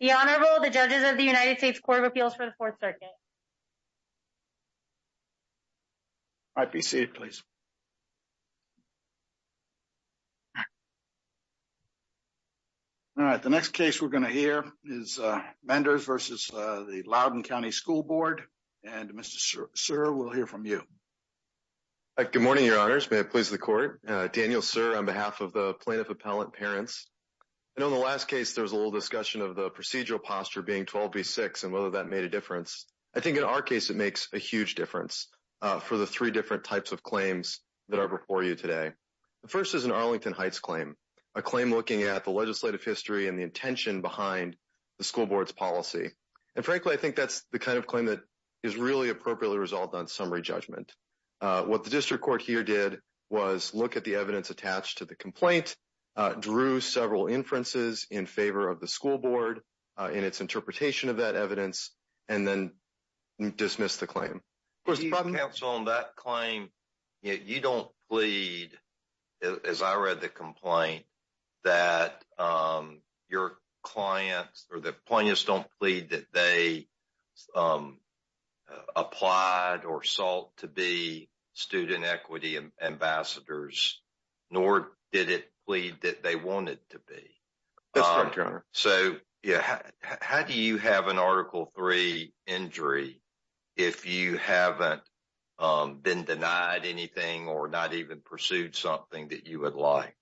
The Honorable, the Judges of the United States Court of Appeals for the Fourth Circuit. IPC, please. All right. The next case we're going to hear is Menders v. Loudoun County School Board. And Mr. Sirr, we'll hear from you. Good morning, Your Honors. May it please the court. Daniel Sirr on behalf of the plaintiff appellate parents. I know in the last case, there was a little discussion of the procedural posture being 12 v. 6 and whether that made a difference. I think in our case, it makes a huge difference for the three different types of claims that are before you today. The first is an Arlington Heights claim, a claim looking at the legislative history and the intention behind the school board's policy. And frankly, I think that's the kind of claim that is really appropriately resolved on summary judgment. What the district court here did was look at the evidence attached to the complaint, drew several inferences in favor of the school board in its interpretation of that evidence, and then dismiss the claim. Do you counsel on that claim? You don't plead, as I read the complaint, that your clients or the ambassadors, nor did it plead that they wanted to be. That's correct, Your Honor. So how do you have an Article 3 injury if you haven't been denied anything or not even pursued something that you would like?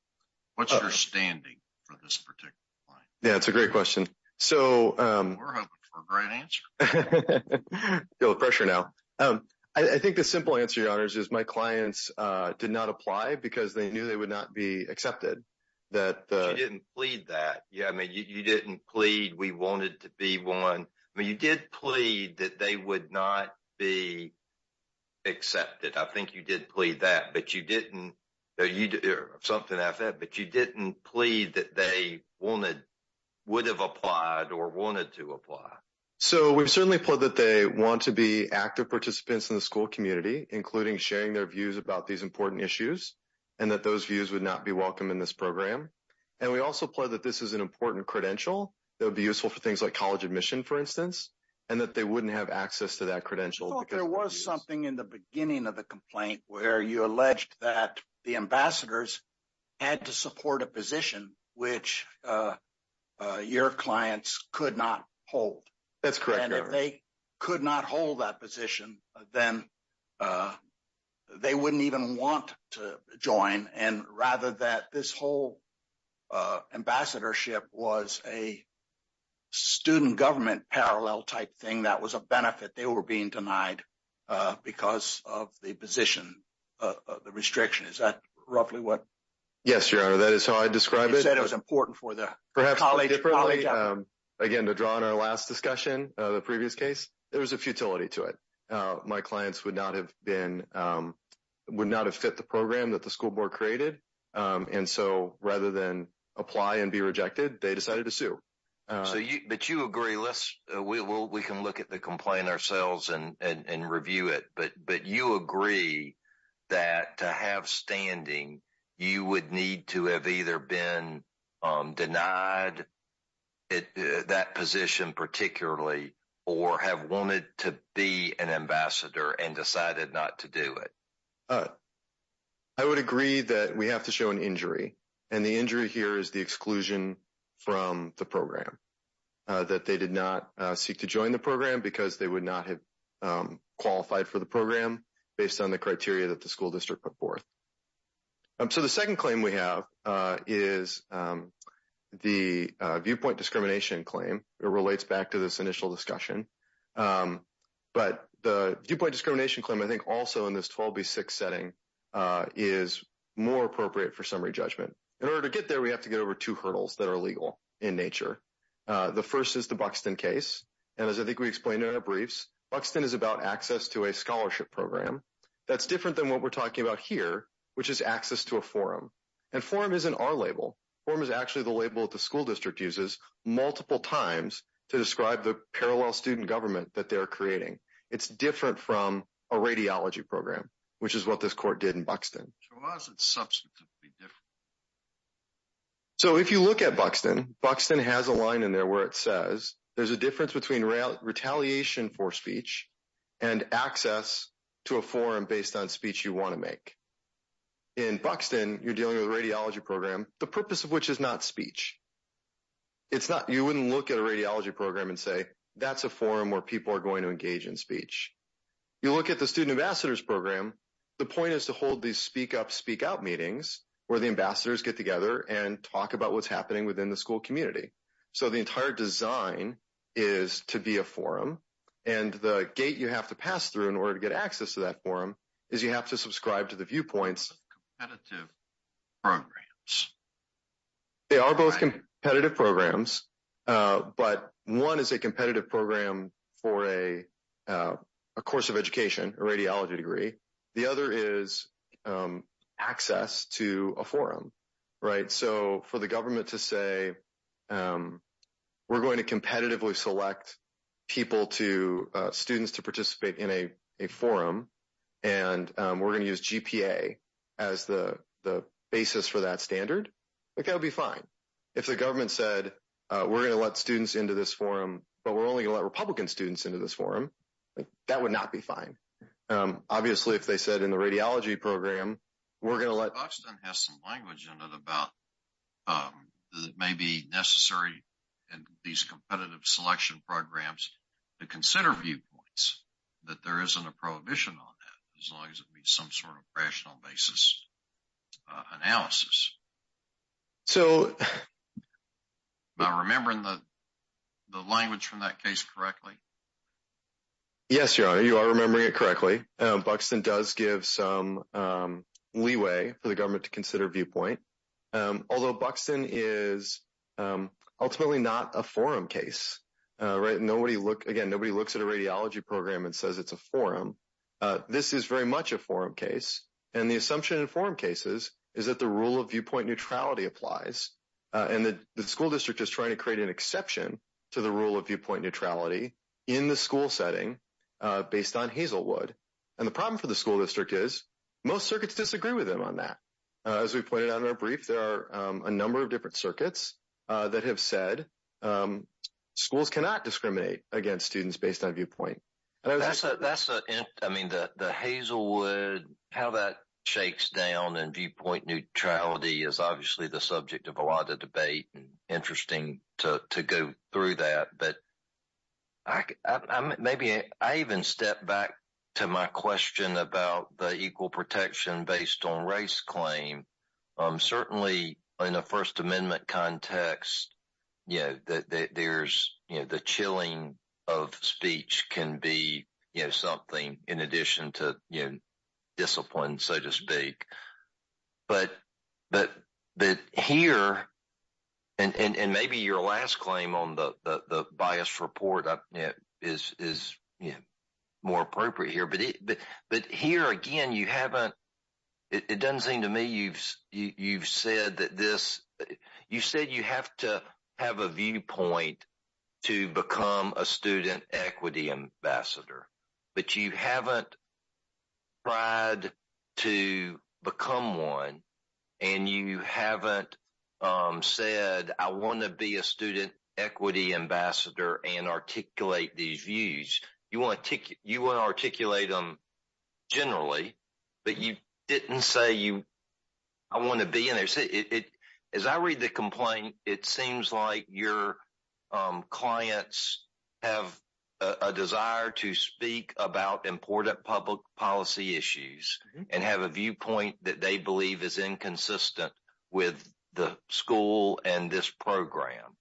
What's your standing for this particular claim? Yeah, it's a great question. We're hoping for a great answer. I feel the pressure now. I think the simple answer, Your Honor, is my clients did not apply because they knew they would not be accepted. But you didn't plead that. I mean, you didn't plead we wanted to be one. I mean, you did plead that they would not be accepted. I think you did plead that, but you didn't plead that they would have applied or wanted to apply. So we've certainly plead that they want to be active participants in the school community, including sharing their views about these important issues, and that those views would not be welcome in this program. And we also plead that this is an important credential that would be useful for things like college admission, for instance, and that they wouldn't have access to that credential. But there was something in the beginning of the complaint where you alleged that the ambassadors had to support a position which your clients could not hold. That's correct, Your Honor. And if they could not hold that position, then they wouldn't even want to join. And rather that this whole ambassadorship was a student-government parallel type thing that was a benefit, they were being denied because of the position, the restriction. Is that roughly what... Yes, Your Honor, that is how I describe it. It was important for the college... Again, to draw on our last discussion, the previous case, there was a futility to it. My clients would not have fit the program that the school board created. And so rather than apply and be rejected, they decided to sue. But you agree, we can look at the complaint ourselves and review it. But you agree that to have standing, you would need to have either been denied that position particularly, or have wanted to be an ambassador and decided not to do it? I would agree that we have to show an injury. And the injury here is the exclusion from the program, that they did not seek to join the program because they would not have put forth. So the second claim we have is the viewpoint discrimination claim. It relates back to this initial discussion. But the viewpoint discrimination claim I think also in this 12B6 setting is more appropriate for summary judgment. In order to get there, we have to get over two hurdles that are illegal in nature. The first is the Buxton case. And as I think we explained in our briefs, Buxton is about access to a scholarship program. That's different than what we're talking about here, which is access to a forum. And forum isn't our label. Forum is actually the label that the school district uses multiple times to describe the parallel student government that they're creating. It's different from a radiology program, which is what this court did in Buxton. So why is it substantively different? So if you look at Buxton, Buxton has a line in there where it says, there's a difference between retaliation for speech and access to a forum based on speech you want to make. In Buxton, you're dealing with a radiology program, the purpose of which is not speech. It's not, you wouldn't look at a radiology program and say, that's a forum where people are going to engage in speech. You look at the student ambassadors program, the point is to hold these speak up, speak out meetings where the ambassadors get together and talk about what's happening in the school community. So the entire design is to be a forum. And the gate you have to pass through in order to get access to that forum is you have to subscribe to the viewpoints. They are both competitive programs, but one is a competitive program for a course of education, radiology degree. The other is access to a forum, right? So for the government to say, we're going to competitively select people to, students to participate in a forum, and we're going to use GPA as the basis for that standard, that would be fine. If the government said, we're going to let students into this forum, but we're only going to let Republican students into this forum, that would not be fine. Obviously, if they said in the radiology program, we're going to let... Boston has some language in it about that may be necessary in these competitive selection programs to consider viewpoints, that there isn't a prohibition on that, as long as it means some sort of rational basis analysis. So by remembering the language from that case correctly, yes, your honor, you are remembering it correctly. Buxton does give some leeway for the government to consider viewpoint. Although Buxton is ultimately not a forum case, right? Again, nobody looks at a radiology program and says it's a forum. This is very much a forum case. And the assumption in forum cases is that the rule of viewpoint neutrality applies. And the school district is trying to create an exception to the rule of school setting based on Hazelwood. And the problem for the school district is most circuits disagree with them on that. As we pointed out in our brief, there are a number of different circuits that have said schools cannot discriminate against students based on viewpoint. I mean, the Hazelwood, how that shakes down and viewpoint neutrality is obviously the subject of a lot of debate and interesting to go through that. But maybe I even step back to my question about the equal protection based on race claim. Certainly in a First Amendment context, the chilling of speech can be something in addition to discipline, so to speak. But here, and maybe your last claim on the bias report is more appropriate here. But here again, you haven't, it doesn't seem to me you've said that this, you said you have to become one. And you haven't said, I want to be a student equity ambassador and articulate these views. You want to articulate them generally, but you didn't say you, I want to be in there. As I read the complaint, it seems like your clients have a desire to speak about important public policy issues and have a viewpoint that they believe is inconsistent with the school and this program.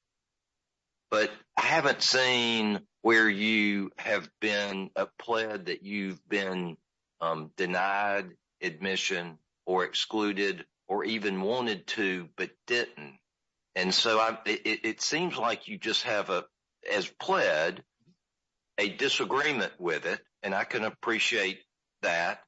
But I haven't seen where you have been a pled that you've been denied admission or excluded or even wanted to, but didn't. And so it seems like you just have a, as pled, a disagreement with it. And I can appreciate that,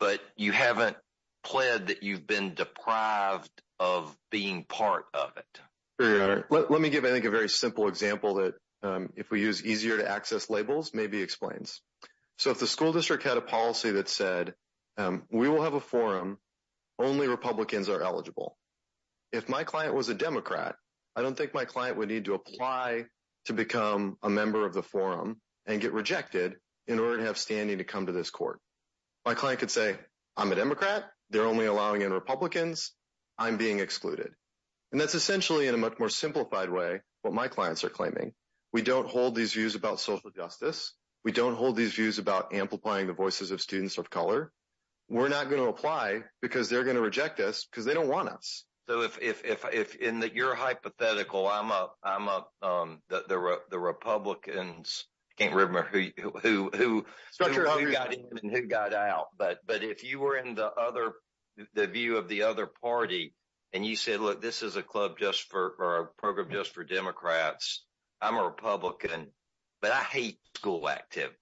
but you haven't pled that you've been deprived of being part of it. Let me give, I think, a very simple example that if we use easier to access labels, maybe explains. So if the school district had a policy that said, we will have a forum, only Republicans are eligible. If my client was a Democrat, I don't think my client would need to apply to become a member of the forum and get rejected in order to have standing to come to this court. My client could say, I'm a Democrat. They're only allowing in Republicans, I'm being excluded. And that's essentially in a much more simplified way, what my clients are claiming. We don't hold these views about social justice. We don't hold these views about amplifying the voices of students of color. We're not going to apply because they're going to reject us because they don't want us. So if, in that you're hypothetical, I'm a, the Republicans, I can't remember who got in and who got out. But if you were in the other, the view of the other party, and you said, look, this is a club just for, or a program just for Democrats, I'm a Republican, but I hate school activities.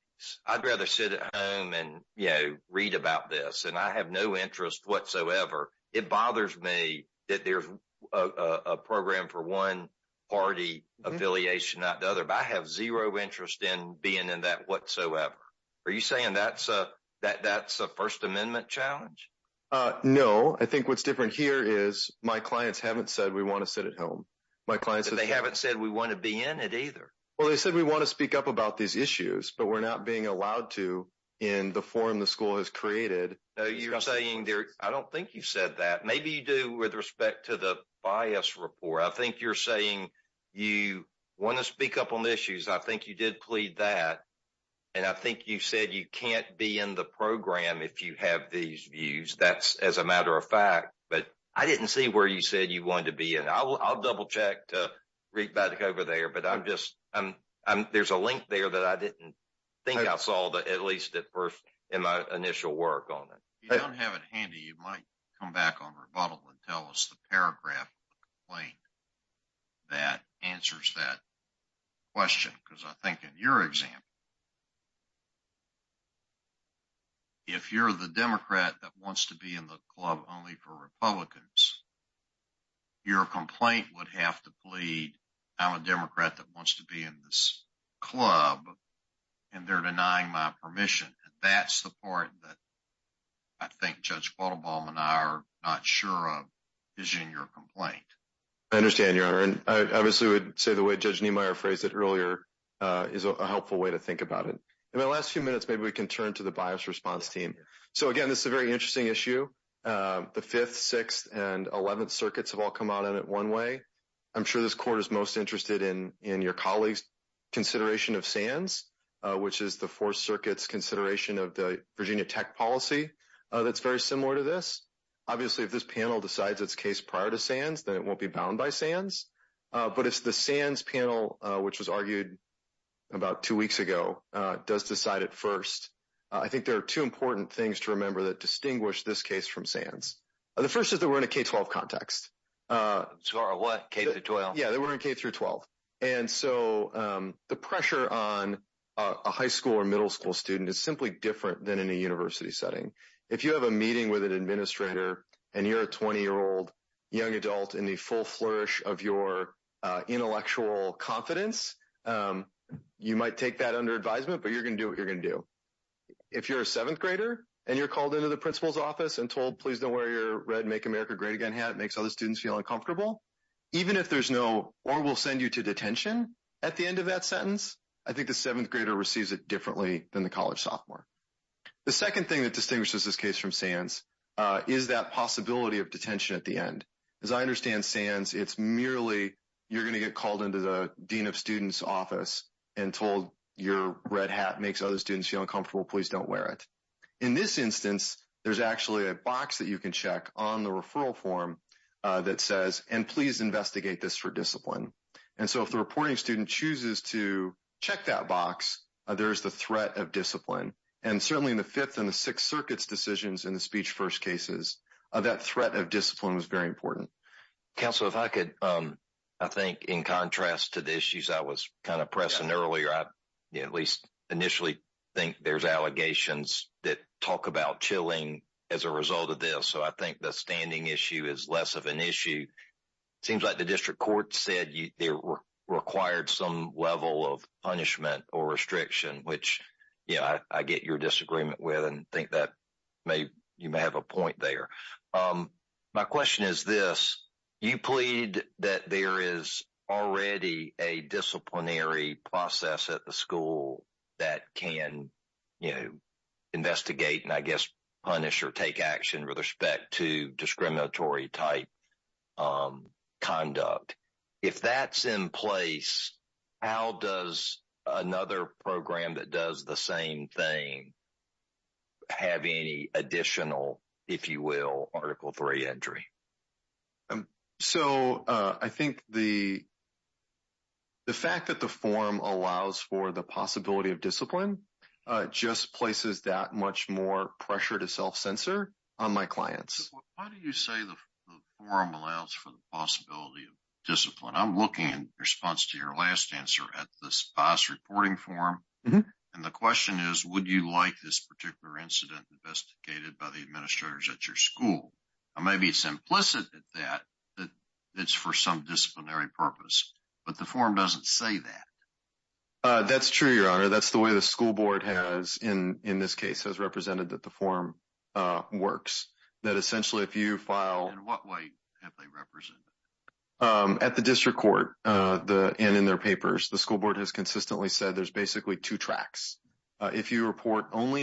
I'd rather sit at home and, you know, read about this. And I have no interest whatsoever. It bothers me that there's a program for one party affiliation, not the other, but I have zero interest in being in that whatsoever. Are you saying that's a first amendment challenge? No, I think what's different here is my clients haven't said, we want to sit at home. My clients, they haven't said, we want to be in it either. Well, they said, we want to speak up about these issues, but we're not being allowed to in the forum the school has created. You're saying there, I don't think you said that. Maybe you do with respect to the bias report. I think you're saying you want to speak up on issues. I think you did plead that. And I think you said you can't be in the program if you have these views. That's as a matter of fact, but I didn't see where you said you wanted to be in. I'll double check to read back over there, but I'm just, there's a link there that I didn't think I saw, at least at first in my If you don't have it handy, you might come back on rebuttal and tell us the paragraph that answers that question. Because I think in your example, if you're the Democrat that wants to be in the club only for Republicans, your complaint would have to plead. I'm a Democrat that wants to be in this club and they're denying my permission. That's the part that I think Judge Quattlebaum and I are not sure of is in your complaint. I understand your honor. And I obviously would say the way Judge Niemeyer phrased it earlier is a helpful way to think about it. In the last few minutes, maybe we can turn to the bias response team. So again, this is a very interesting issue. The 5th, 6th and 11th circuits have all come out in it one way. I'm sure this court is most consideration of SANS, which is the 4th circuit's consideration of the Virginia Tech policy. That's very similar to this. Obviously, if this panel decides it's case prior to SANS, then it won't be bound by SANS. But it's the SANS panel, which was argued about two weeks ago, does decide it first. I think there are two important things to remember that distinguish this case from SANS. The first is that we're in a K-12 context. Sorry, what? K-12? Yeah, we're in K-12. And so, the pressure on a high school or middle school student is simply different than in a university setting. If you have a meeting with an administrator, and you're a 20-year-old young adult in the full flourish of your intellectual confidence, you might take that under advisement, but you're going to do what you're going to do. If you're a 7th grader, and you're called into the principal's office and told, please don't wear your red Make America Great Again hat, it makes other students feel uncomfortable. Or we'll send you to detention at the end of that sentence. I think the 7th grader receives it differently than the college sophomore. The second thing that distinguishes this case from SANS is that possibility of detention at the end. As I understand SANS, it's merely, you're going to get called into the dean of students office and told, your red hat makes other students feel uncomfortable, please don't wear it. In this instance, there's actually a box that you can check on the referral form that says, and please investigate this for discipline. And so if the reporting student chooses to check that box, there's the threat of discipline. And certainly in the 5th and the 6th circuits decisions in the speech first cases, that threat of discipline was very important. Counselor, if I could, I think in contrast to the issues I was kind of pressing earlier, I at least initially think there's allegations that talk about chilling as a result of this. I think the standing issue is less of an issue. It seems like the district court said required some level of punishment or restriction, which I get your disagreement with and think that you may have a point there. My question is this, you plead that there is already a disciplinary process at the school that can investigate and I guess punish or take action with respect to discriminatory type conduct. If that's in place, how does another program that does the same thing have any additional, if you will, Article 3 entry? And so I think the fact that the forum allows for the possibility of discipline just places that much more pressure to self-censor on my clients. Why do you say the forum allows for the possibility of discipline? I'm looking in response to your last answer at this past reporting forum. And the question is, would you like this particular incident investigated by the administrators at your school? And maybe it's implicit that it's for some disciplinary purpose, but the forum doesn't say that. That's true, your honor. That's the way the school board has in this case has represented that the forum works. That essentially if you file- In what way have they represented? At the district court and in their papers, the school board has consistently said there's basically two tracks. If you report only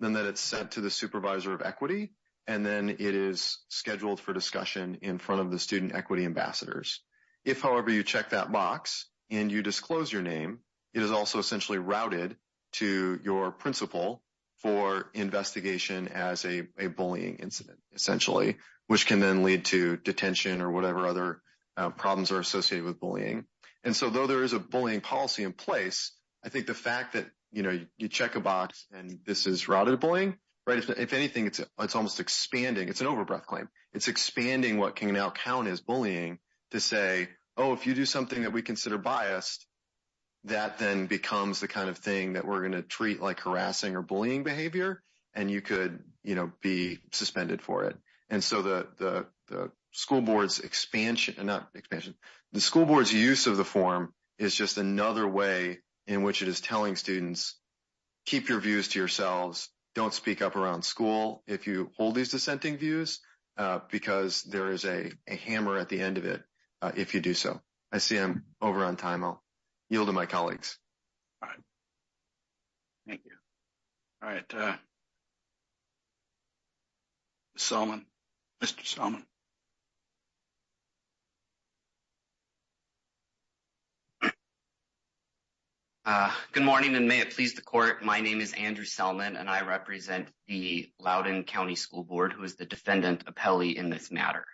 then that it's sent to the supervisor of equity. And then it is scheduled for discussion in front of the student equity ambassadors. If however, you check that box and you disclose your name, it is also essentially routed to your principal for investigation as a bullying incident, essentially, which can then lead to detention or whatever other problems are associated with bullying. And so though there is a bullying policy in place, I think the fact that you check a box and this is routed bullying, right? If anything, it's almost expanding. It's an overbreath claim. It's expanding what can now count as bullying to say, oh, if you do something that we consider biased, that then becomes the kind of thing that we're going to treat like harassing or bullying behavior. And you could be suspended for it. And so the school board's expansion, not expansion, the school board's use of the forum is just another way in which it is telling students, keep your views to yourselves. Don't speak up around school if you hold these dissenting views, because there is a hammer at the end of it if you do so. I see I'm over on time. I'll yield to my colleagues. All right. Thank you. All right. Mr. Selman. Mr. Selman. Good morning, and may it please the court. My name is Andrew Selman, and I represent the Loudoun County School Board, who is the defendant appellee in this matter.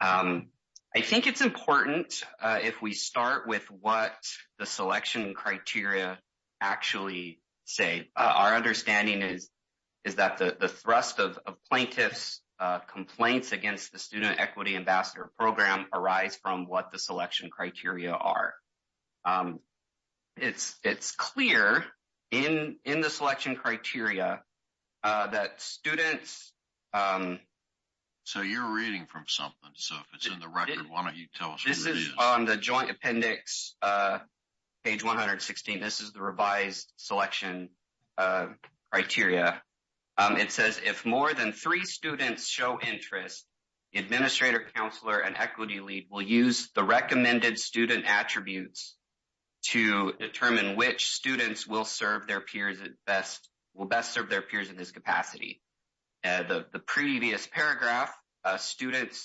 I think it's important if we start with what the selection criteria actually say. Our is that the thrust of plaintiff's complaints against the student equity ambassador program arise from what the selection criteria are. It's clear in the selection criteria that students... So you're reading from something. So if it's in the record, why don't you tell us what it is? This is on the joint appendix, page 116. This is the revised selection criteria. It says, if more than three students show interest, the administrator, counselor, and equity lead will use the recommended student attributes to determine which students will best serve their peers in this capacity. The previous paragraph, student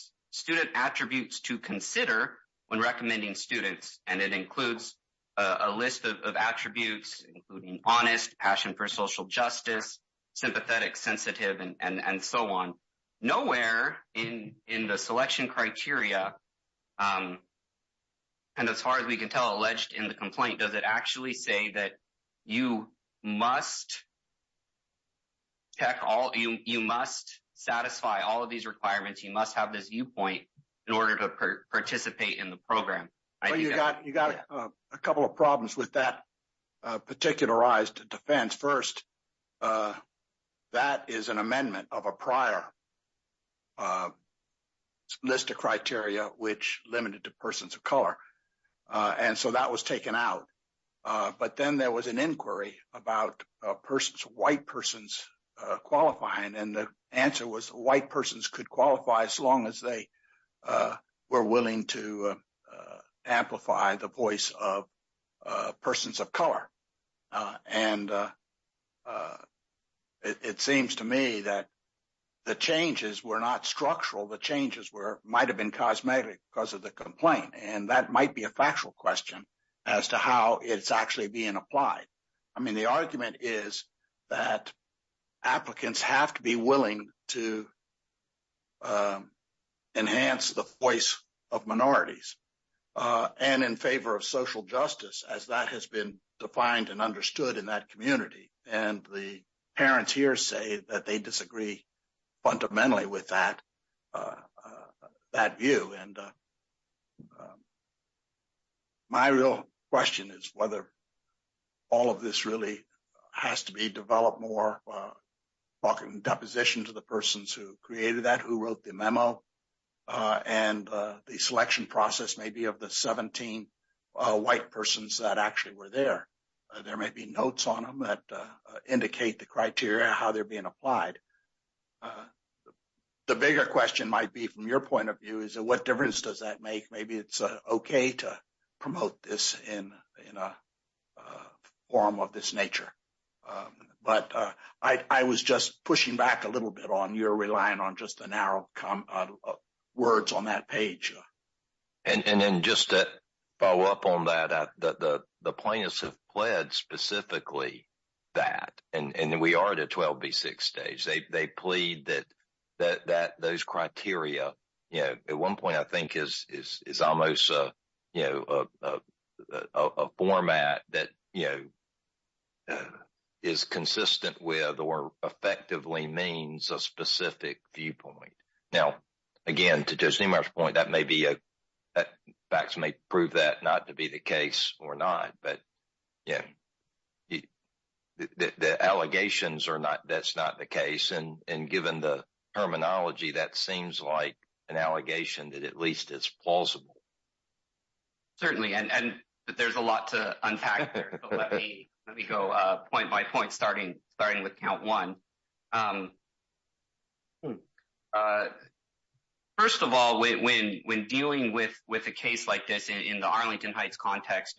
attributes to consider when recommending students, and it includes a list of attributes, including honest, passion for social justice, sympathetic, sensitive, and so on. Nowhere in the selection criteria, and as far as we can tell alleged in the complaint, does it actually say that you must satisfy all of these requirements, you must have this viewpoint in order to participate in the program? You got a couple of problems with that particularized defense. First, that is an amendment of a prior list of criteria, which limited to persons of color. And so that was taken out. But then there was an inquiry about persons, white persons qualifying. And the answer was white persons could qualify as long as they were willing to amplify the voice of persons of color. And it seems to me that the changes were not structural. The changes might have been cosmetic because of the complaint. And that might be a factual question as to how it's actually being applied. I mean, the argument is that applicants have to be willing to enhance the voice of minorities and in favor of social justice as that has been defined and understood in that community. And the parents here say that they disagree fundamentally with that view. And my real question is whether all of this really has to be developed more talking deposition to the persons who created that, who wrote the memo, and the selection process may be of the 17 white persons that actually were there. There may be notes on them that indicate the criteria, how they're being applied. And the bigger question might be from your point of view is what difference does that make? Maybe it's okay to promote this in a form of this nature. But I was just pushing back a little bit on you're relying on just the narrow words on that page. And then just to follow up on that, the plaintiffs have pled specifically that. And we are at a 12B6 stage. They plead that those criteria, at one point, I think, is almost a format that is consistent with or effectively means a specific viewpoint. Now, again, to Judge Neumeier's point, facts may prove that not to be the case or not. But the allegations are not that's not the case. And given the terminology, that seems like an allegation that at least it's plausible. Certainly. And there's a lot to unpack there. But let me go point by point starting with count one. First of all, when dealing with a case like this in the Arlington Heights context,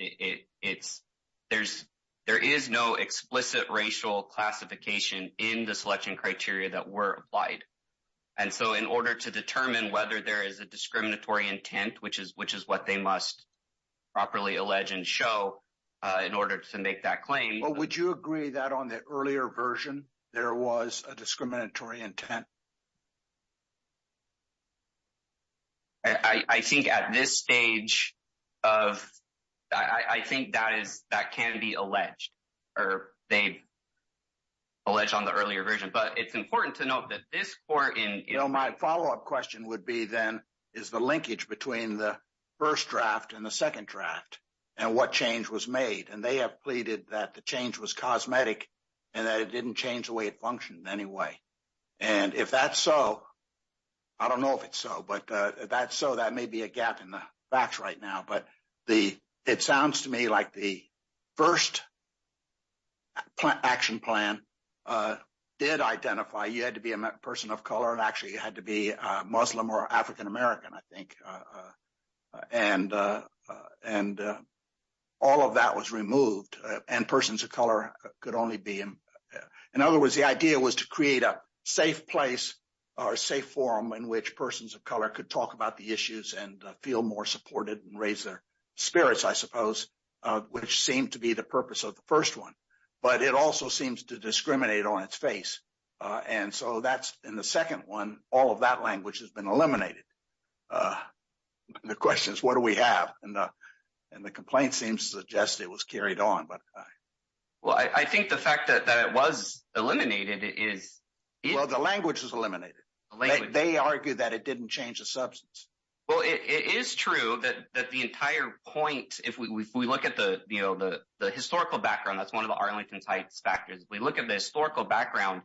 it's there's there is no explicit racial classification in the selection criteria that were applied. And so, in order to determine whether there is a discriminatory intent, which is what they must properly allege and show in order to make that claim. Well, would you agree that on the earlier version, there was a discriminatory intent? I think at this stage of I think that is that can be alleged or they've alleged on the earlier version. But it's important to note that this court in my follow up question would be then is the linkage between the first draft and the second draft and what change was made. And they have pleaded that the change was cosmetic and that it didn't change the way it functioned in any way. And if that's so, I don't know if it's so. But that's so that may be a gap in the facts right now. But the it sounds to me like the first action plan did identify you had to be a person of color and actually had to be Muslim or African American, I think. And all of that was removed. And persons of color could only be. In other words, the idea was to create a safe place or safe forum in which persons of color could talk about the issues and feel more supported and raise their spirits, I suppose, which seemed to be the purpose of the first one. But it also seems to discriminate on its face. And so that's in the second one, all of that language has been eliminated. The question is, what do we have? And the complaint seems to suggest it was carried on. Well, I think the fact that it was eliminated is. Well, the language is eliminated. They argue that it didn't change the substance. Well, it is true that the entire point, if we look at the historical background, that's one of the Arlington Heights factors. We look at the historical background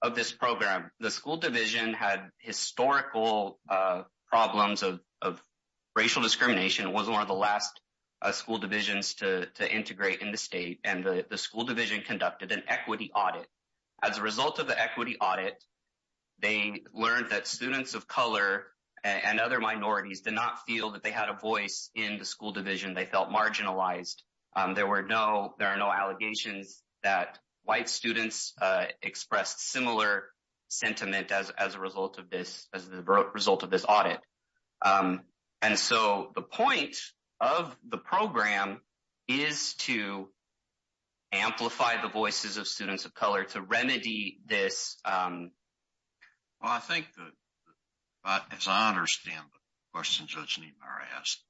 of this program. The school division had historical problems of racial discrimination. It was one of the last school divisions to integrate in the state. And the school division conducted an equity audit. As a result of the equity audit, they learned that students of color and other minorities did not feel that they had a voice in the school division. They felt marginalized. There were no, there are no allegations that white students expressed similar sentiment as a result of this audit. And so the point of the program is to amplify the voices of students of color to remedy this. Well, I think that, as I understand the question Judge Niemeyer asked,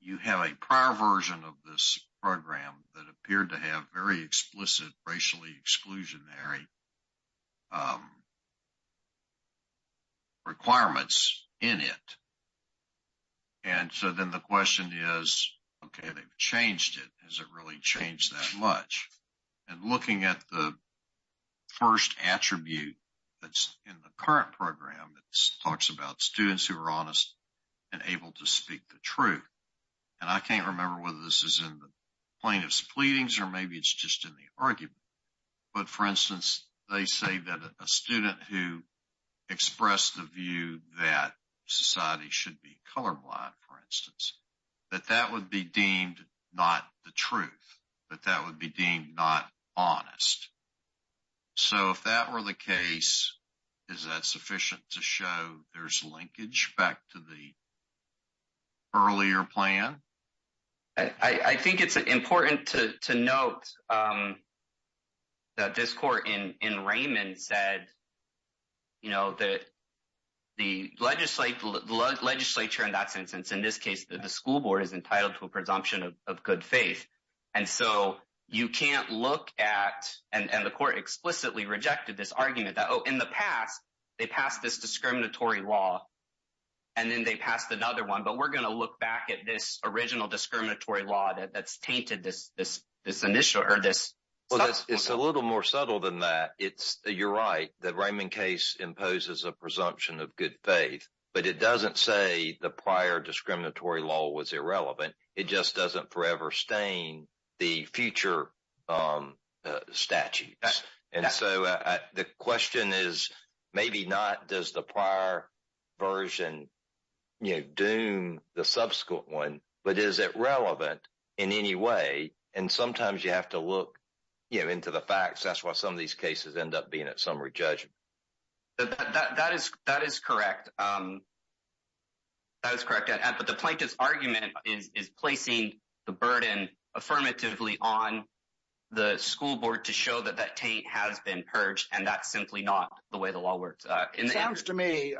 you have a prior version of this program that appeared to have very explicit racially exclusionary requirements in it. And so then the question is, okay, they've changed it. Has it really changed that much? And looking at the first attribute that's in the current program, it talks about students who are honest and able to speak the truth. And I can't remember whether this is in the plaintiff's pleadings or maybe it's just in the argument. But for instance, they say that a student who expressed the view that society should be colorblind, for instance, that that would be deemed not the truth, that that would be deemed not honest. So if that were the I think it's important to note that this court in Raymond said, you know, that the legislature in that sentence, in this case, the school board is entitled to a presumption of good faith. And so you can't look at, and the court explicitly rejected this argument that, oh, in the past, they passed this discriminatory law. And then they passed another one. But we're going to look back at this original discriminatory law that's tainted this initial or this. Well, it's a little more subtle than that. You're right. The Raymond case imposes a presumption of good faith. But it doesn't say the prior discriminatory law was irrelevant. It just doesn't forever stain the future statutes. And so the question is, maybe not does the prior version doom the subsequent one, but is it relevant in any way? And sometimes you have to look into the facts. That's why some of these cases end up being at summary judgment. That is correct. That is correct. But the plaintiff's argument is placing the burden affirmatively on the school board to show that that taint has been purged. And that's simply not the way the law works. It sounds to me,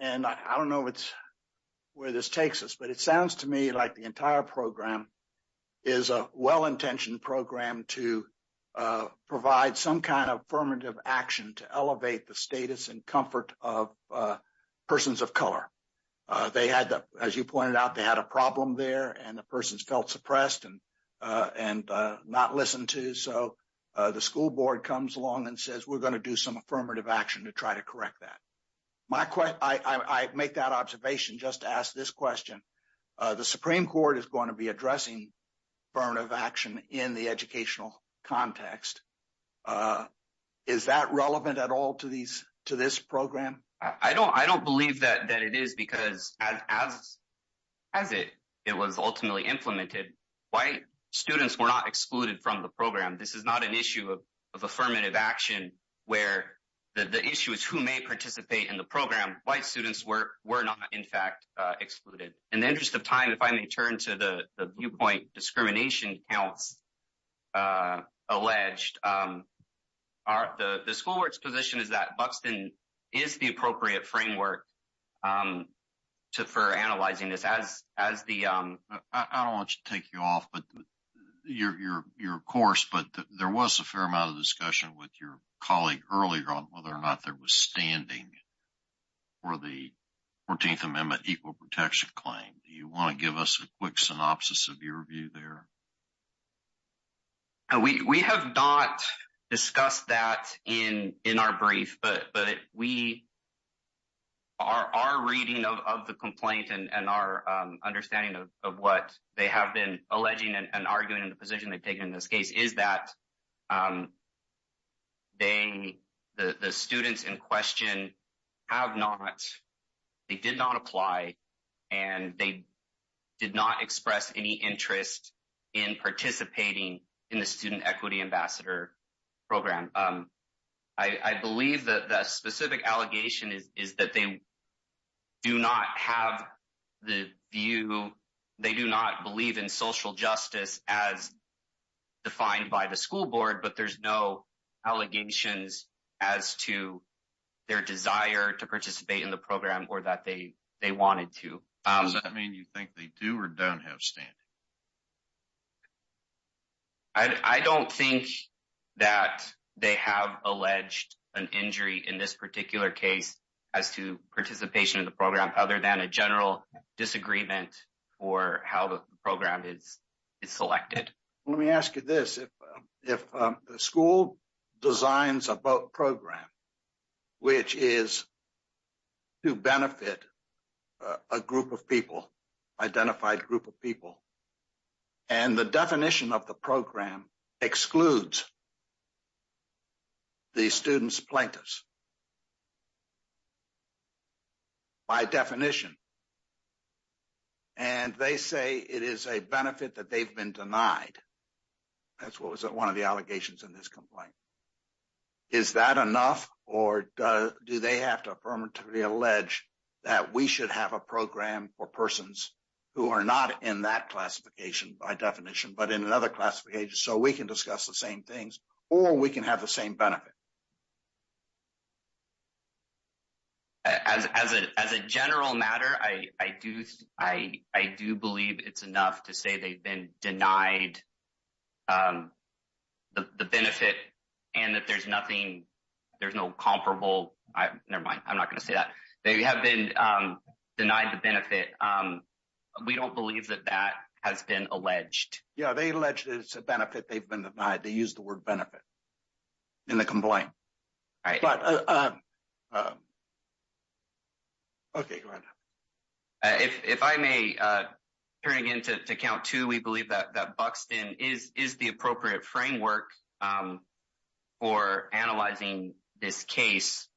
and I don't know where this takes us, but it sounds to me like the entire program is a well-intentioned program to provide some kind of affirmative action to elevate the status and comfort of persons of color. As you pointed out, they had a problem there, and the persons felt suppressed and not listened to. So the school board comes along and says, we're going to do some affirmative action to try to correct that. I make that observation just to ask this question. The Supreme Court is going to be addressing affirmative action in the educational context. Is that relevant at all to this program? I don't believe that it is because as it was ultimately implemented, white students were not excluded from the program. This is not an issue of affirmative action where the issue is who may participate in the program. White students were not, in fact, excluded. In the interest of time, if I may turn to the viewpoint discrimination counts alleged, the school board's position is that Buxton is the appropriate framework for analyzing this. I don't want to take you off your course, but there was a fair amount of discussion with your colleague earlier on whether or not there was standing for the 14th Amendment Equal Protection Claim. Do you want to give us a quick synopsis of your view there? We have not discussed that in our brief, but our reading of the complaint and our understanding of what they have been alleging and arguing in the position they've taken in this is that the students in question did not apply and they did not express any interest in participating in the Student Equity Ambassador Program. I believe that the specific allegation is that they do not have the view, they do not believe in social justice as defined by the school board, but there's no allegations as to their desire to participate in the program or that they wanted to. Does that mean you think they do or don't have standing? I don't think that they have alleged an injury in this particular case as to participation in the program, other than a general disagreement for how the program is selected. Let me ask you this. If the school designs a vote program, which is to benefit a group of people, identified group of people, and the definition of the program excludes the students plaintiffs by definition, and they say it is a benefit that they've been denied, that's what was one of the allegations in this complaint, is that enough or do they have to who are not in that classification by definition, but in another classification, so we can discuss the same things or we can have the same benefit? As a general matter, I do believe it's enough to say they've been denied the benefit and that there's nothing, there's no comparable, never mind, I'm not going to say that. They have been denied the benefit. We don't believe that that has been alleged. Yeah, they alleged it's a benefit. They've been denied. They used the word benefit in the complaint. Okay, go ahead. If I may turn again to count two, we believe that Buxton is the appropriate framework for analyzing this case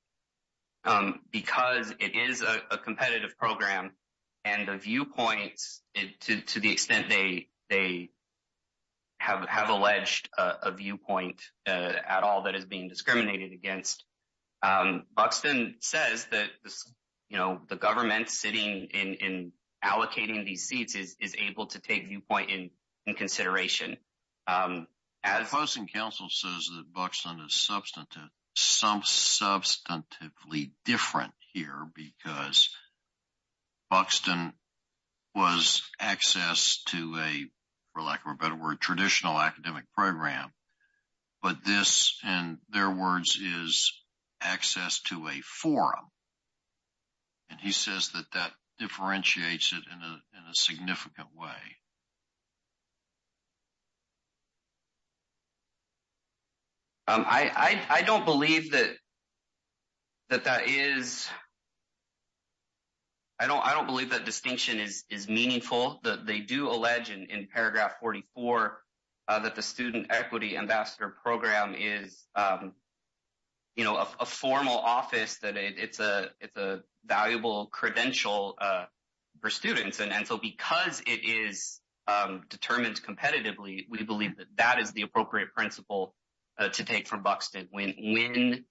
because it is a competitive program and the viewpoints, to the extent they have alleged a viewpoint at all that is being discriminated against, Buxton says that the government sitting in allocating these seats is able to take viewpoint in consideration. The Post and Council says that Buxton is substantively different here because Buxton was access to a, for lack of a better word, traditional academic program, but this, in their words, is access to a forum. And he says that that differentiates it in a significant way. I don't believe that that is, I don't believe that distinction is meaningful. They do allege in paragraph 44 that the Student Equity Ambassador Program is, you know, a formal office that it's a valuable credential for students. And so, because it is determined competitively, we believe that that is the appropriate principle to take from Buxton when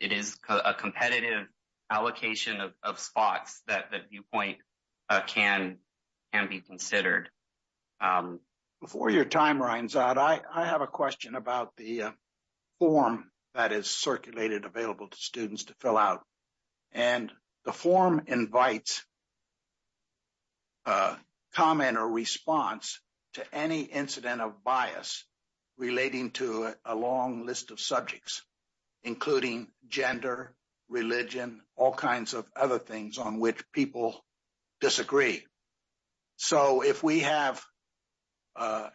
it is a competitive allocation of spots that the viewpoint can be considered. Before your time runs out, I have a question about the form that is circulated available to students to fill out. And the form invites a comment or response to any incident of bias relating to a long list of subjects, including gender, religion, all kinds of other things on which people disagree. So, if we have a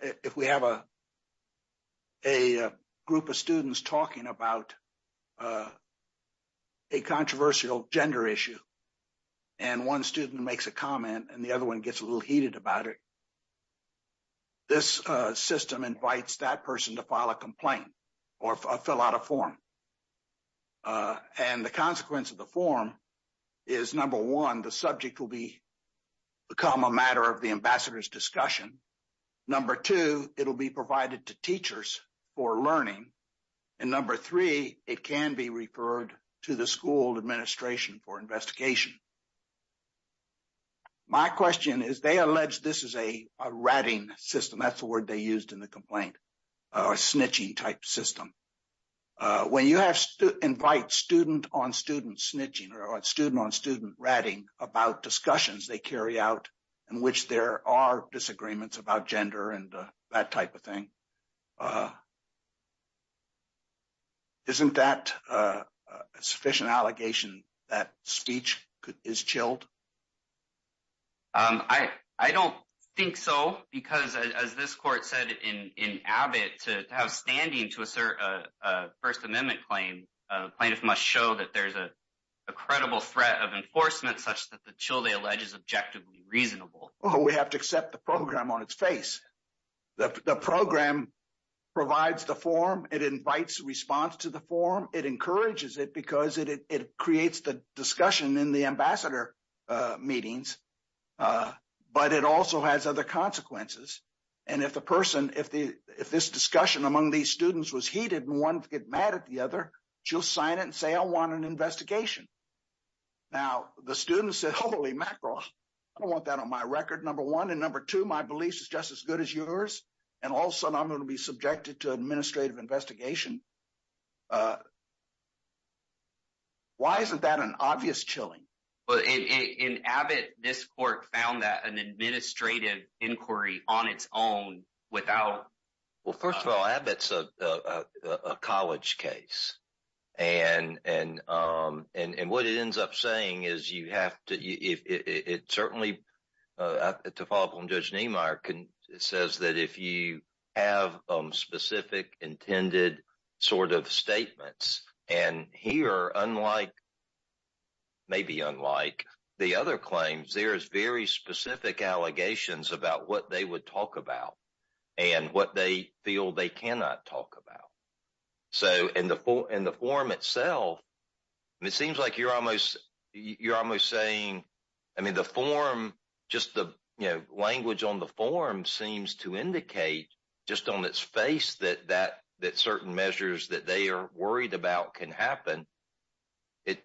group of students talking about a controversial gender issue, and one student makes a comment and the other one gets a little heated about it, this system invites that person to file a complaint or fill out a form. And the consequence of the form is, number one, the subject will become a matter of the ambassador's discussion. Number two, it will be provided to teachers for learning. And number three, it can be referred to the school administration for investigation. My question is, they allege this is a ratting system. That's the word they used in the complaint, a snitching-type system. When you invite student-on-student snitching or student-on-student ratting about discussions they carry out in which there are disagreements about gender and that type of thing, isn't that a sufficient allegation that speech is chilled? I don't think so, because as this court said in Abbott, to have standing to assert a First Amendment claim, plaintiffs must show that there's a credible threat of enforcement such that the chill they allege is objectively reasonable. Well, we have to accept the program on its face. The program provides the form. It invites response to the form. It encourages it because it creates the discussion in the ambassador meetings. But it also has other consequences. And if this discussion among these students was heated and one gets mad at the other, she'll sign it and say, I want an investigation. Now, the student said, holy mackerel, I don't want that on my record, number one. And number two, my belief is just as good as yours. And all of a sudden, I'm going to be subjected to administrative investigation. Why isn't that an obvious chilling? But in Abbott, this court found that an administrative inquiry on its own without... Well, first of all, Abbott's a college case. And what it ends up saying is you have to... Certainly, to follow up on Judge Niemeyer, it says that if you have specific intended sort of statements and here, maybe unlike the other claims, there is very specific allegations about what they would talk about and what they feel they cannot talk about. So in the form itself, it seems like you're almost saying... I mean, the form, just the language on the form seems to indicate just on its face that certain measures that they are worried about can happen.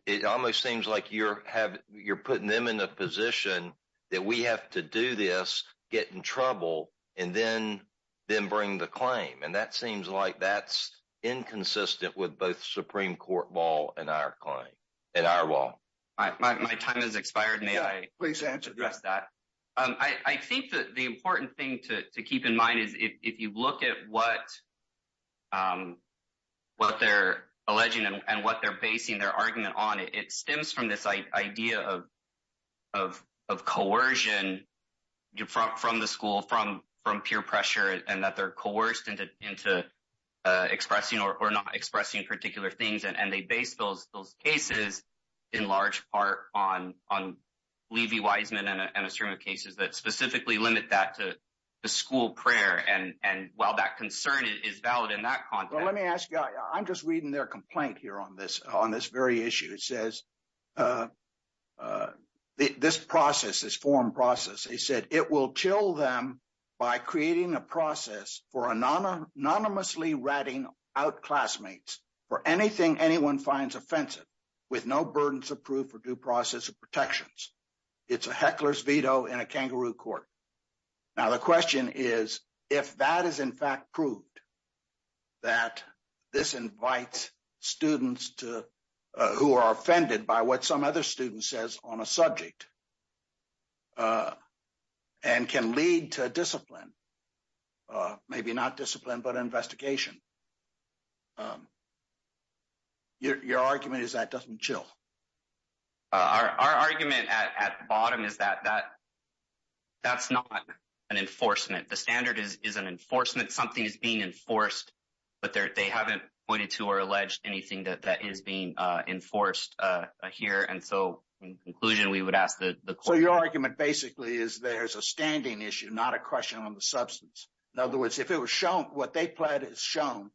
It almost seems like you're putting them in a position that we have to do this, get in trouble, and then bring the claim. And that seems like that's inconsistent with both Supreme Court law and our law. My time has expired. May I address that? Please answer. I think that the important thing to keep in mind is if you look at what they're alleging and what they're basing their argument on, it stems from this idea of coercion from the school, from peer pressure, and that they're coerced into expressing or not expressing particular things. And they base those cases in large part on Levy-Wiseman and a stream of cases that specifically limit that to the school prayer. And while that concern is valid in that context... Well, let me ask you, I'm just reading their complaint here on this very issue. It says, this process, this form process, they said, it will kill them by creating a process for anonymously ratting out classmates for anything anyone finds offensive, with no burdens of proof or due process of protections. It's a heckler's veto in a kangaroo court. Now, the question is, if that is in fact proved that this invites students who are offended by what some other student says on a subject and can lead to discipline, maybe not discipline, but investigation, your argument is that doesn't chill? Our argument at the bottom is that that's not an enforcement. The standard is an enforcement. Something is being enforced, but they haven't pointed to or alleged anything that is being enforced here. And so, in conclusion, we would ask that the court... So, your argument basically is there's a standing issue, not a question on the substance. In other words, if it was shown, what they pled is shown,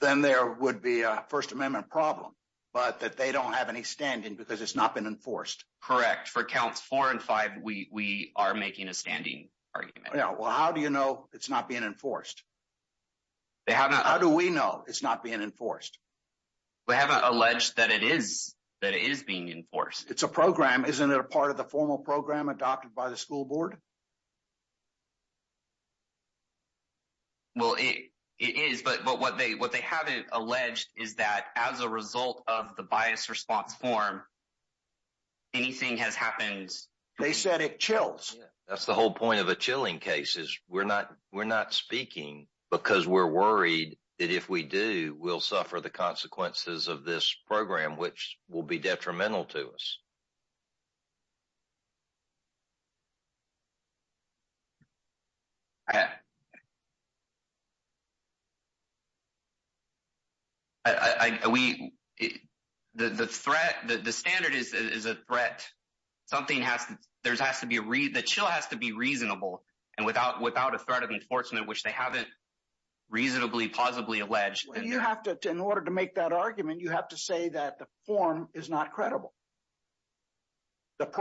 then there would be a First Amendment problem, but that they don't have any standing because it's not been enforced. Correct. For counts four and five, we are making a standing argument. Well, how do you know it's not being enforced? How do we know it's not being enforced? We haven't alleged that it is being enforced. It's a program. Isn't it a part of the formal program adopted by the school board? Well, it is, but what they haven't alleged is that as a result of the bias response form, anything has happened... They said it chills. That's the whole point of a chilling case is we're not speaking because we're worried that if we do, we'll suffer the consequences of this program, which will be detrimental to us. I... The standard is a threat. The chill has to be reasonable and without a threat of enforcement, which they haven't reasonably, plausibly alleged. You have to, in order to make that argument, you have to say that the form is not credible. That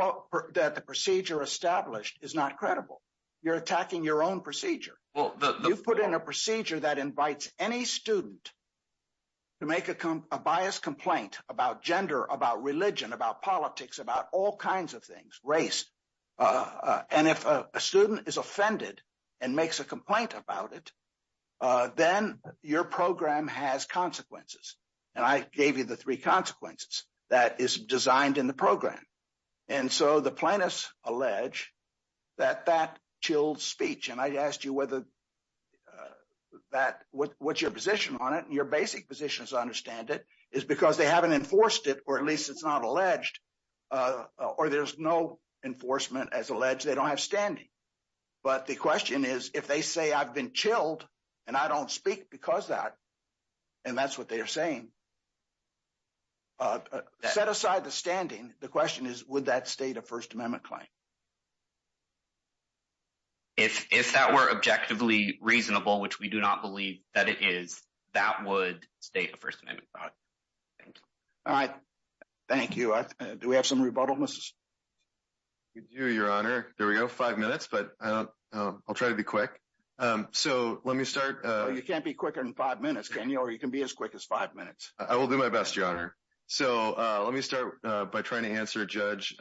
the procedure established is not credible. You're attacking your own procedure. Well, the... You've put in a procedure that invites any student to make a bias complaint about gender, about religion, about politics, about all kinds of things, race. And if a student is offended and makes a complaint about it, then your program has consequences. And I gave you the three consequences that is designed in the program. And so the plaintiffs allege that that chilled speech. And I asked you whether that... What's your position on it? And your basic position is I understand it is because they haven't enforced it, or at least it's not alleged, or there's no enforcement as alleged. They don't have standing. But the question is, if they say I've been chilled and I don't speak because of that, and that's what they are saying, set aside the standing. The question is, would that state a First Amendment claim? If that were objectively reasonable, which we do not believe that it is, that would state a First Amendment. All right. Thank you. Do we have some rebuttal? We do, Your Honor. There we go. Five minutes, but I'll try to be quick. So let me start... Five minutes, can you? Or you can be as quick as five minutes. I will do my best, Your Honor. So let me start by trying to answer Judge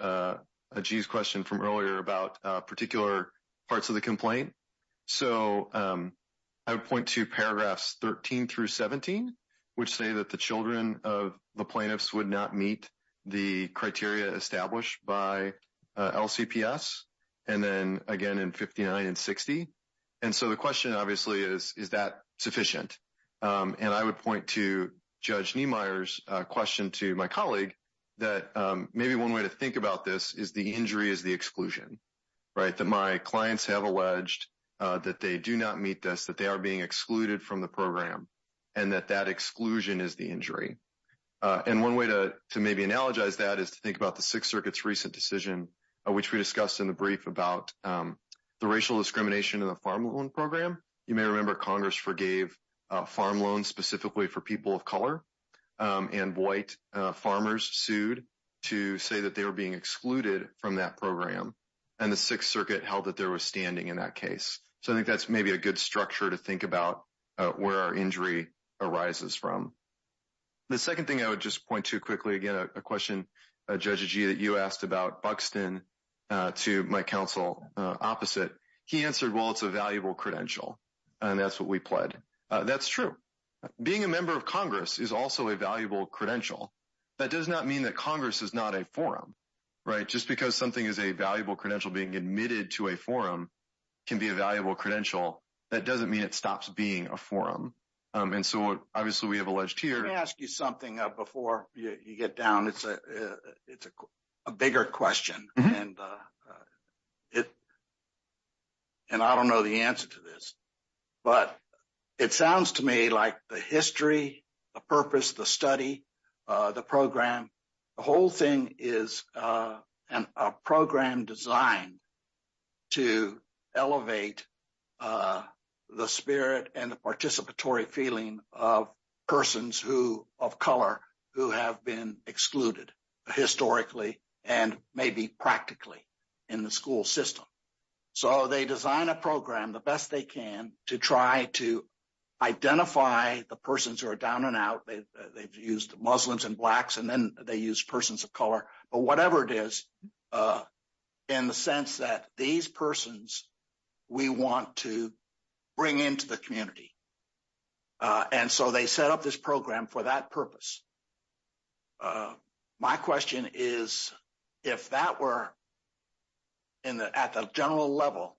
Agee's question from earlier about particular parts of the complaint. So I would point to paragraphs 13 through 17, which say that the children of the plaintiffs would not meet the criteria established by LCPS. And then again, in 59 and 60. And so the question obviously is, is that sufficient? And I would point to Judge Niemeyer's question to my colleague, that maybe one way to think about this is the injury is the exclusion, right? That my clients have alleged that they do not meet this, that they are being excluded from the program, and that that exclusion is the injury. And one way to maybe analogize that is to think about the Sixth Circuit's recent decision, which we discussed in the brief about the racial discrimination in the farm loan program. You may remember Congress forgave farm loans specifically for people of color, and white farmers sued to say that they were being excluded from that program. And the Sixth Circuit held that they were standing in that case. So I think that's maybe a good structure to think about where our injury arises from. The second thing I would just point to quickly, again, a question, Judge Agee, that you asked about Buxton to my counsel opposite. He answered, well, it's a valuable credential. And that's what we pled. That's true. Being a member of Congress is also a valuable credential. That does not mean that Congress is not a forum, right? Just because something is a valuable credential, being admitted to a forum can be a valuable credential. That doesn't mean it stops being a forum. And so obviously, we have alleged here... It's a bigger question. And I don't know the answer to this. But it sounds to me like the history, the purpose, the study, the program, the whole thing is a program designed to elevate the spirit and the participatory feeling of persons of color who have been excluded historically and maybe practically in the school system. So they design a program the best they can to try to identify the persons who are down and out. They've used Muslims and Blacks and then they use persons of color or whatever it is in the sense that these persons we want to bring into the community. And so they set up this program for that purpose. My question is, if that were at the general level,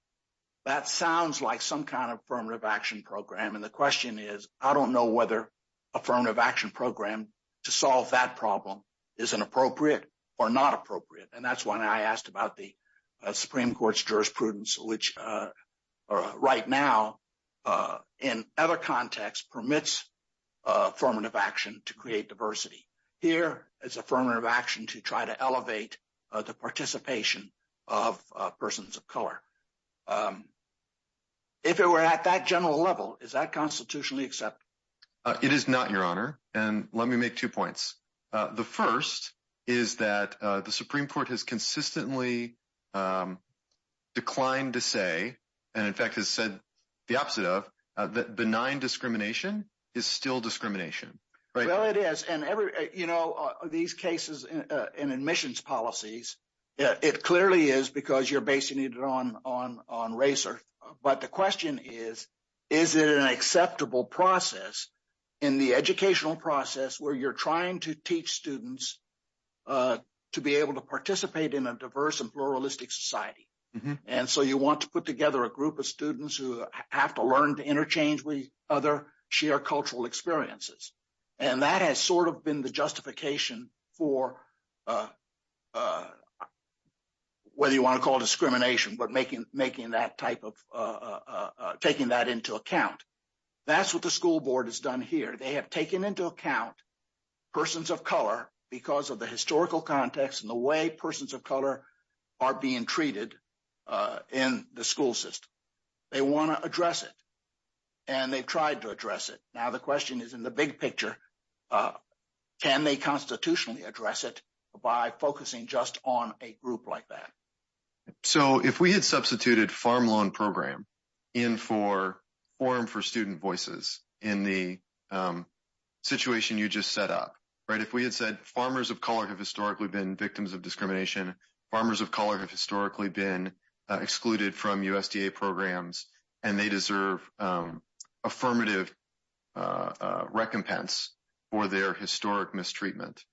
that sounds like some kind of affirmative action program. And the question is, I don't know whether affirmative action program to solve that problem is an appropriate or not appropriate. And that's why I asked about the Supreme Court's jurisprudence, which right now, in other contexts, permits affirmative action to create diversity. Here, it's affirmative action to try to elevate the participation of persons of color. If it were at that general level, is that constitutionally accepted? It is not, Your Honor. And let me make two points. The first is that the Supreme Court has consistently declined to say, and in fact has said the opposite of, that benign discrimination is still discrimination. Well, it is. And these cases in admissions policies, it clearly is because you're basing it on racer. But the question is, is it an acceptable process in the educational process where you're trying to teach students to be able to participate in a diverse and pluralistic society? And so you want to put together a group of students who have to learn to interchange with other, share cultural experiences. And that has sort of been the justification for whether you want to call it discrimination, but taking that into account. That's what the school board has done here. They have taken into account persons of color because of the historical context and the way persons of color are being treated in the school system. They want to address it. And they've tried to address it. Now, the question is in the big can they constitutionally address it by focusing just on a group like that? So, if we had substituted farm loan program in for forum for student voices in the situation you just set up, right? If we had said farmers of color have historically been victims of discrimination, farmers of color have historically been excluded from USDA programs, and they deserve affirmative recompense for their historic mistreatment.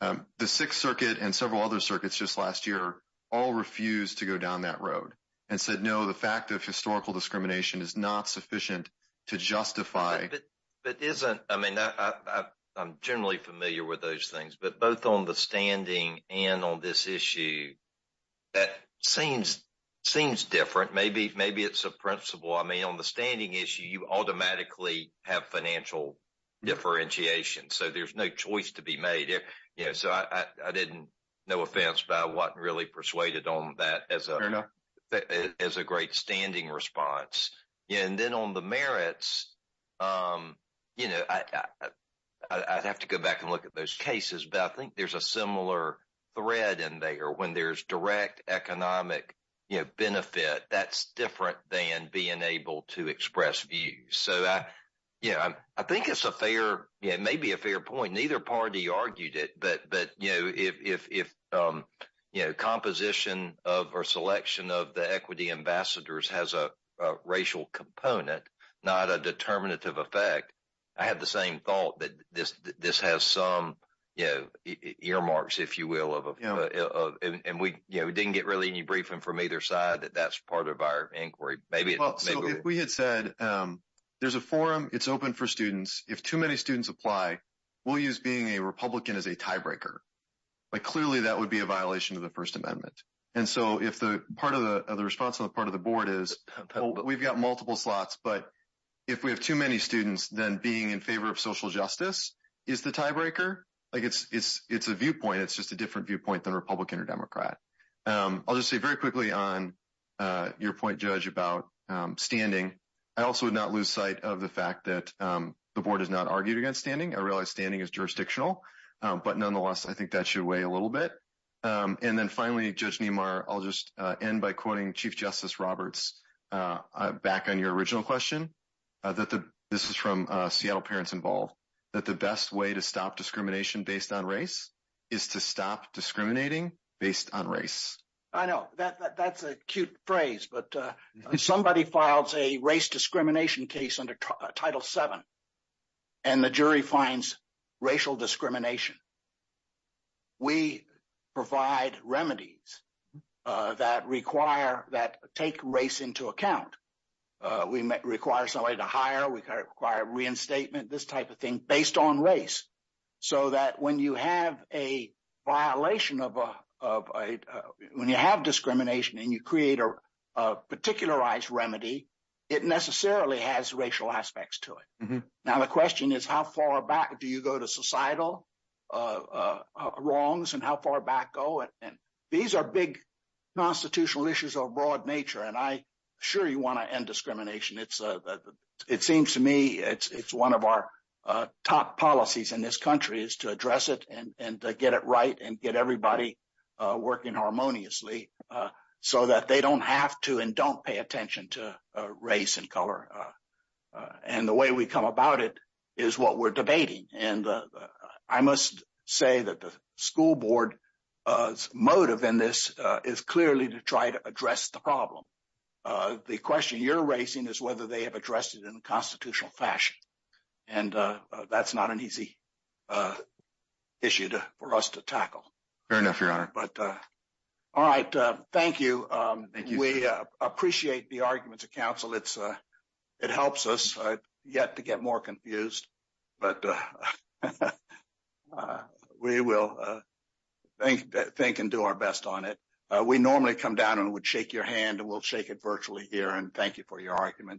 The Sixth Circuit and several other circuits just last year all refused to go down that road and said, no, the fact of historical discrimination is not sufficient to justify. But isn't, I mean, I'm generally familiar with those things, but both on the standing and on this issue, that seems different. Maybe it's a principle. I mean, on the standing issue, you automatically have financial differentiation. So, there's no choice to be made. So, I didn't, no offense, but I wasn't really persuaded on that as a great standing response. Yeah. And then on the merits, I'd have to go back and look at those cases, but I think there's a similar thread in there. When there's direct economic benefit, that's different than being able to express views. So, yeah, I think it's a fair, yeah, maybe a fair point. Neither party argued it, but if composition of or selection of the equity ambassadors has a racial component, not a determinative effect, I had the same thought that this has some earmarks, if you will, of, and we didn't get really any briefing from either side that that's part of our inquiry. Maybe. So, if we had said, there's a forum, it's open for students. If too many students apply, we'll use being a Republican as a tiebreaker. But clearly, that would be a violation of the First Amendment. And so, if the part of the response on the part of the board is, we've got multiple slots, but if we have too many students, then being in favor of social justice is the tiebreaker. It's a viewpoint. It's just a different viewpoint than Republican or Democrat. I'll just say very quickly on your point, Judge, about standing. I also would not lose sight of the fact that the board has not argued against standing. I realize standing is jurisdictional, but nonetheless, I think that should weigh a little bit. And then finally, Judge Niemeyer, I'll just end by quoting Chief Justice Roberts back on your original question. This is from Seattle Parents Involved, that the best way to stop discrimination based on race is to stop discriminating based on race. I know that that's a cute phrase, but somebody files a race discrimination case under Title VII, and the jury finds racial discrimination. We provide remedies that take race into account. We may require somebody to hire, require a reinstatement, this type of thing, based on race. So that when you have a violation of a — when you have discrimination and you create a particularized remedy, it necessarily has racial aspects to it. Now, the question is, how far back do you go to societal wrongs and how far back go? And these are big constitutional issues of a broad nature, and I'm sure you want to end discrimination. It seems to me it's one of our top policies in this country, is to address it and get it right and get everybody working harmoniously so that they don't have to and don't pay attention to race and color. And the way we come about it is what we're debating. And I must say that the school board's motive in this is clearly to try to — the question you're raising is whether they have addressed it in a constitutional fashion. And that's not an easy issue for us to tackle. Fair enough, Your Honor. All right. Thank you. We appreciate the arguments of counsel. It helps us. I've yet to get more confused, but we will think and do our best on it. We normally come down and would shake your hand, and we'll shake it virtually here. And thank you for your argument.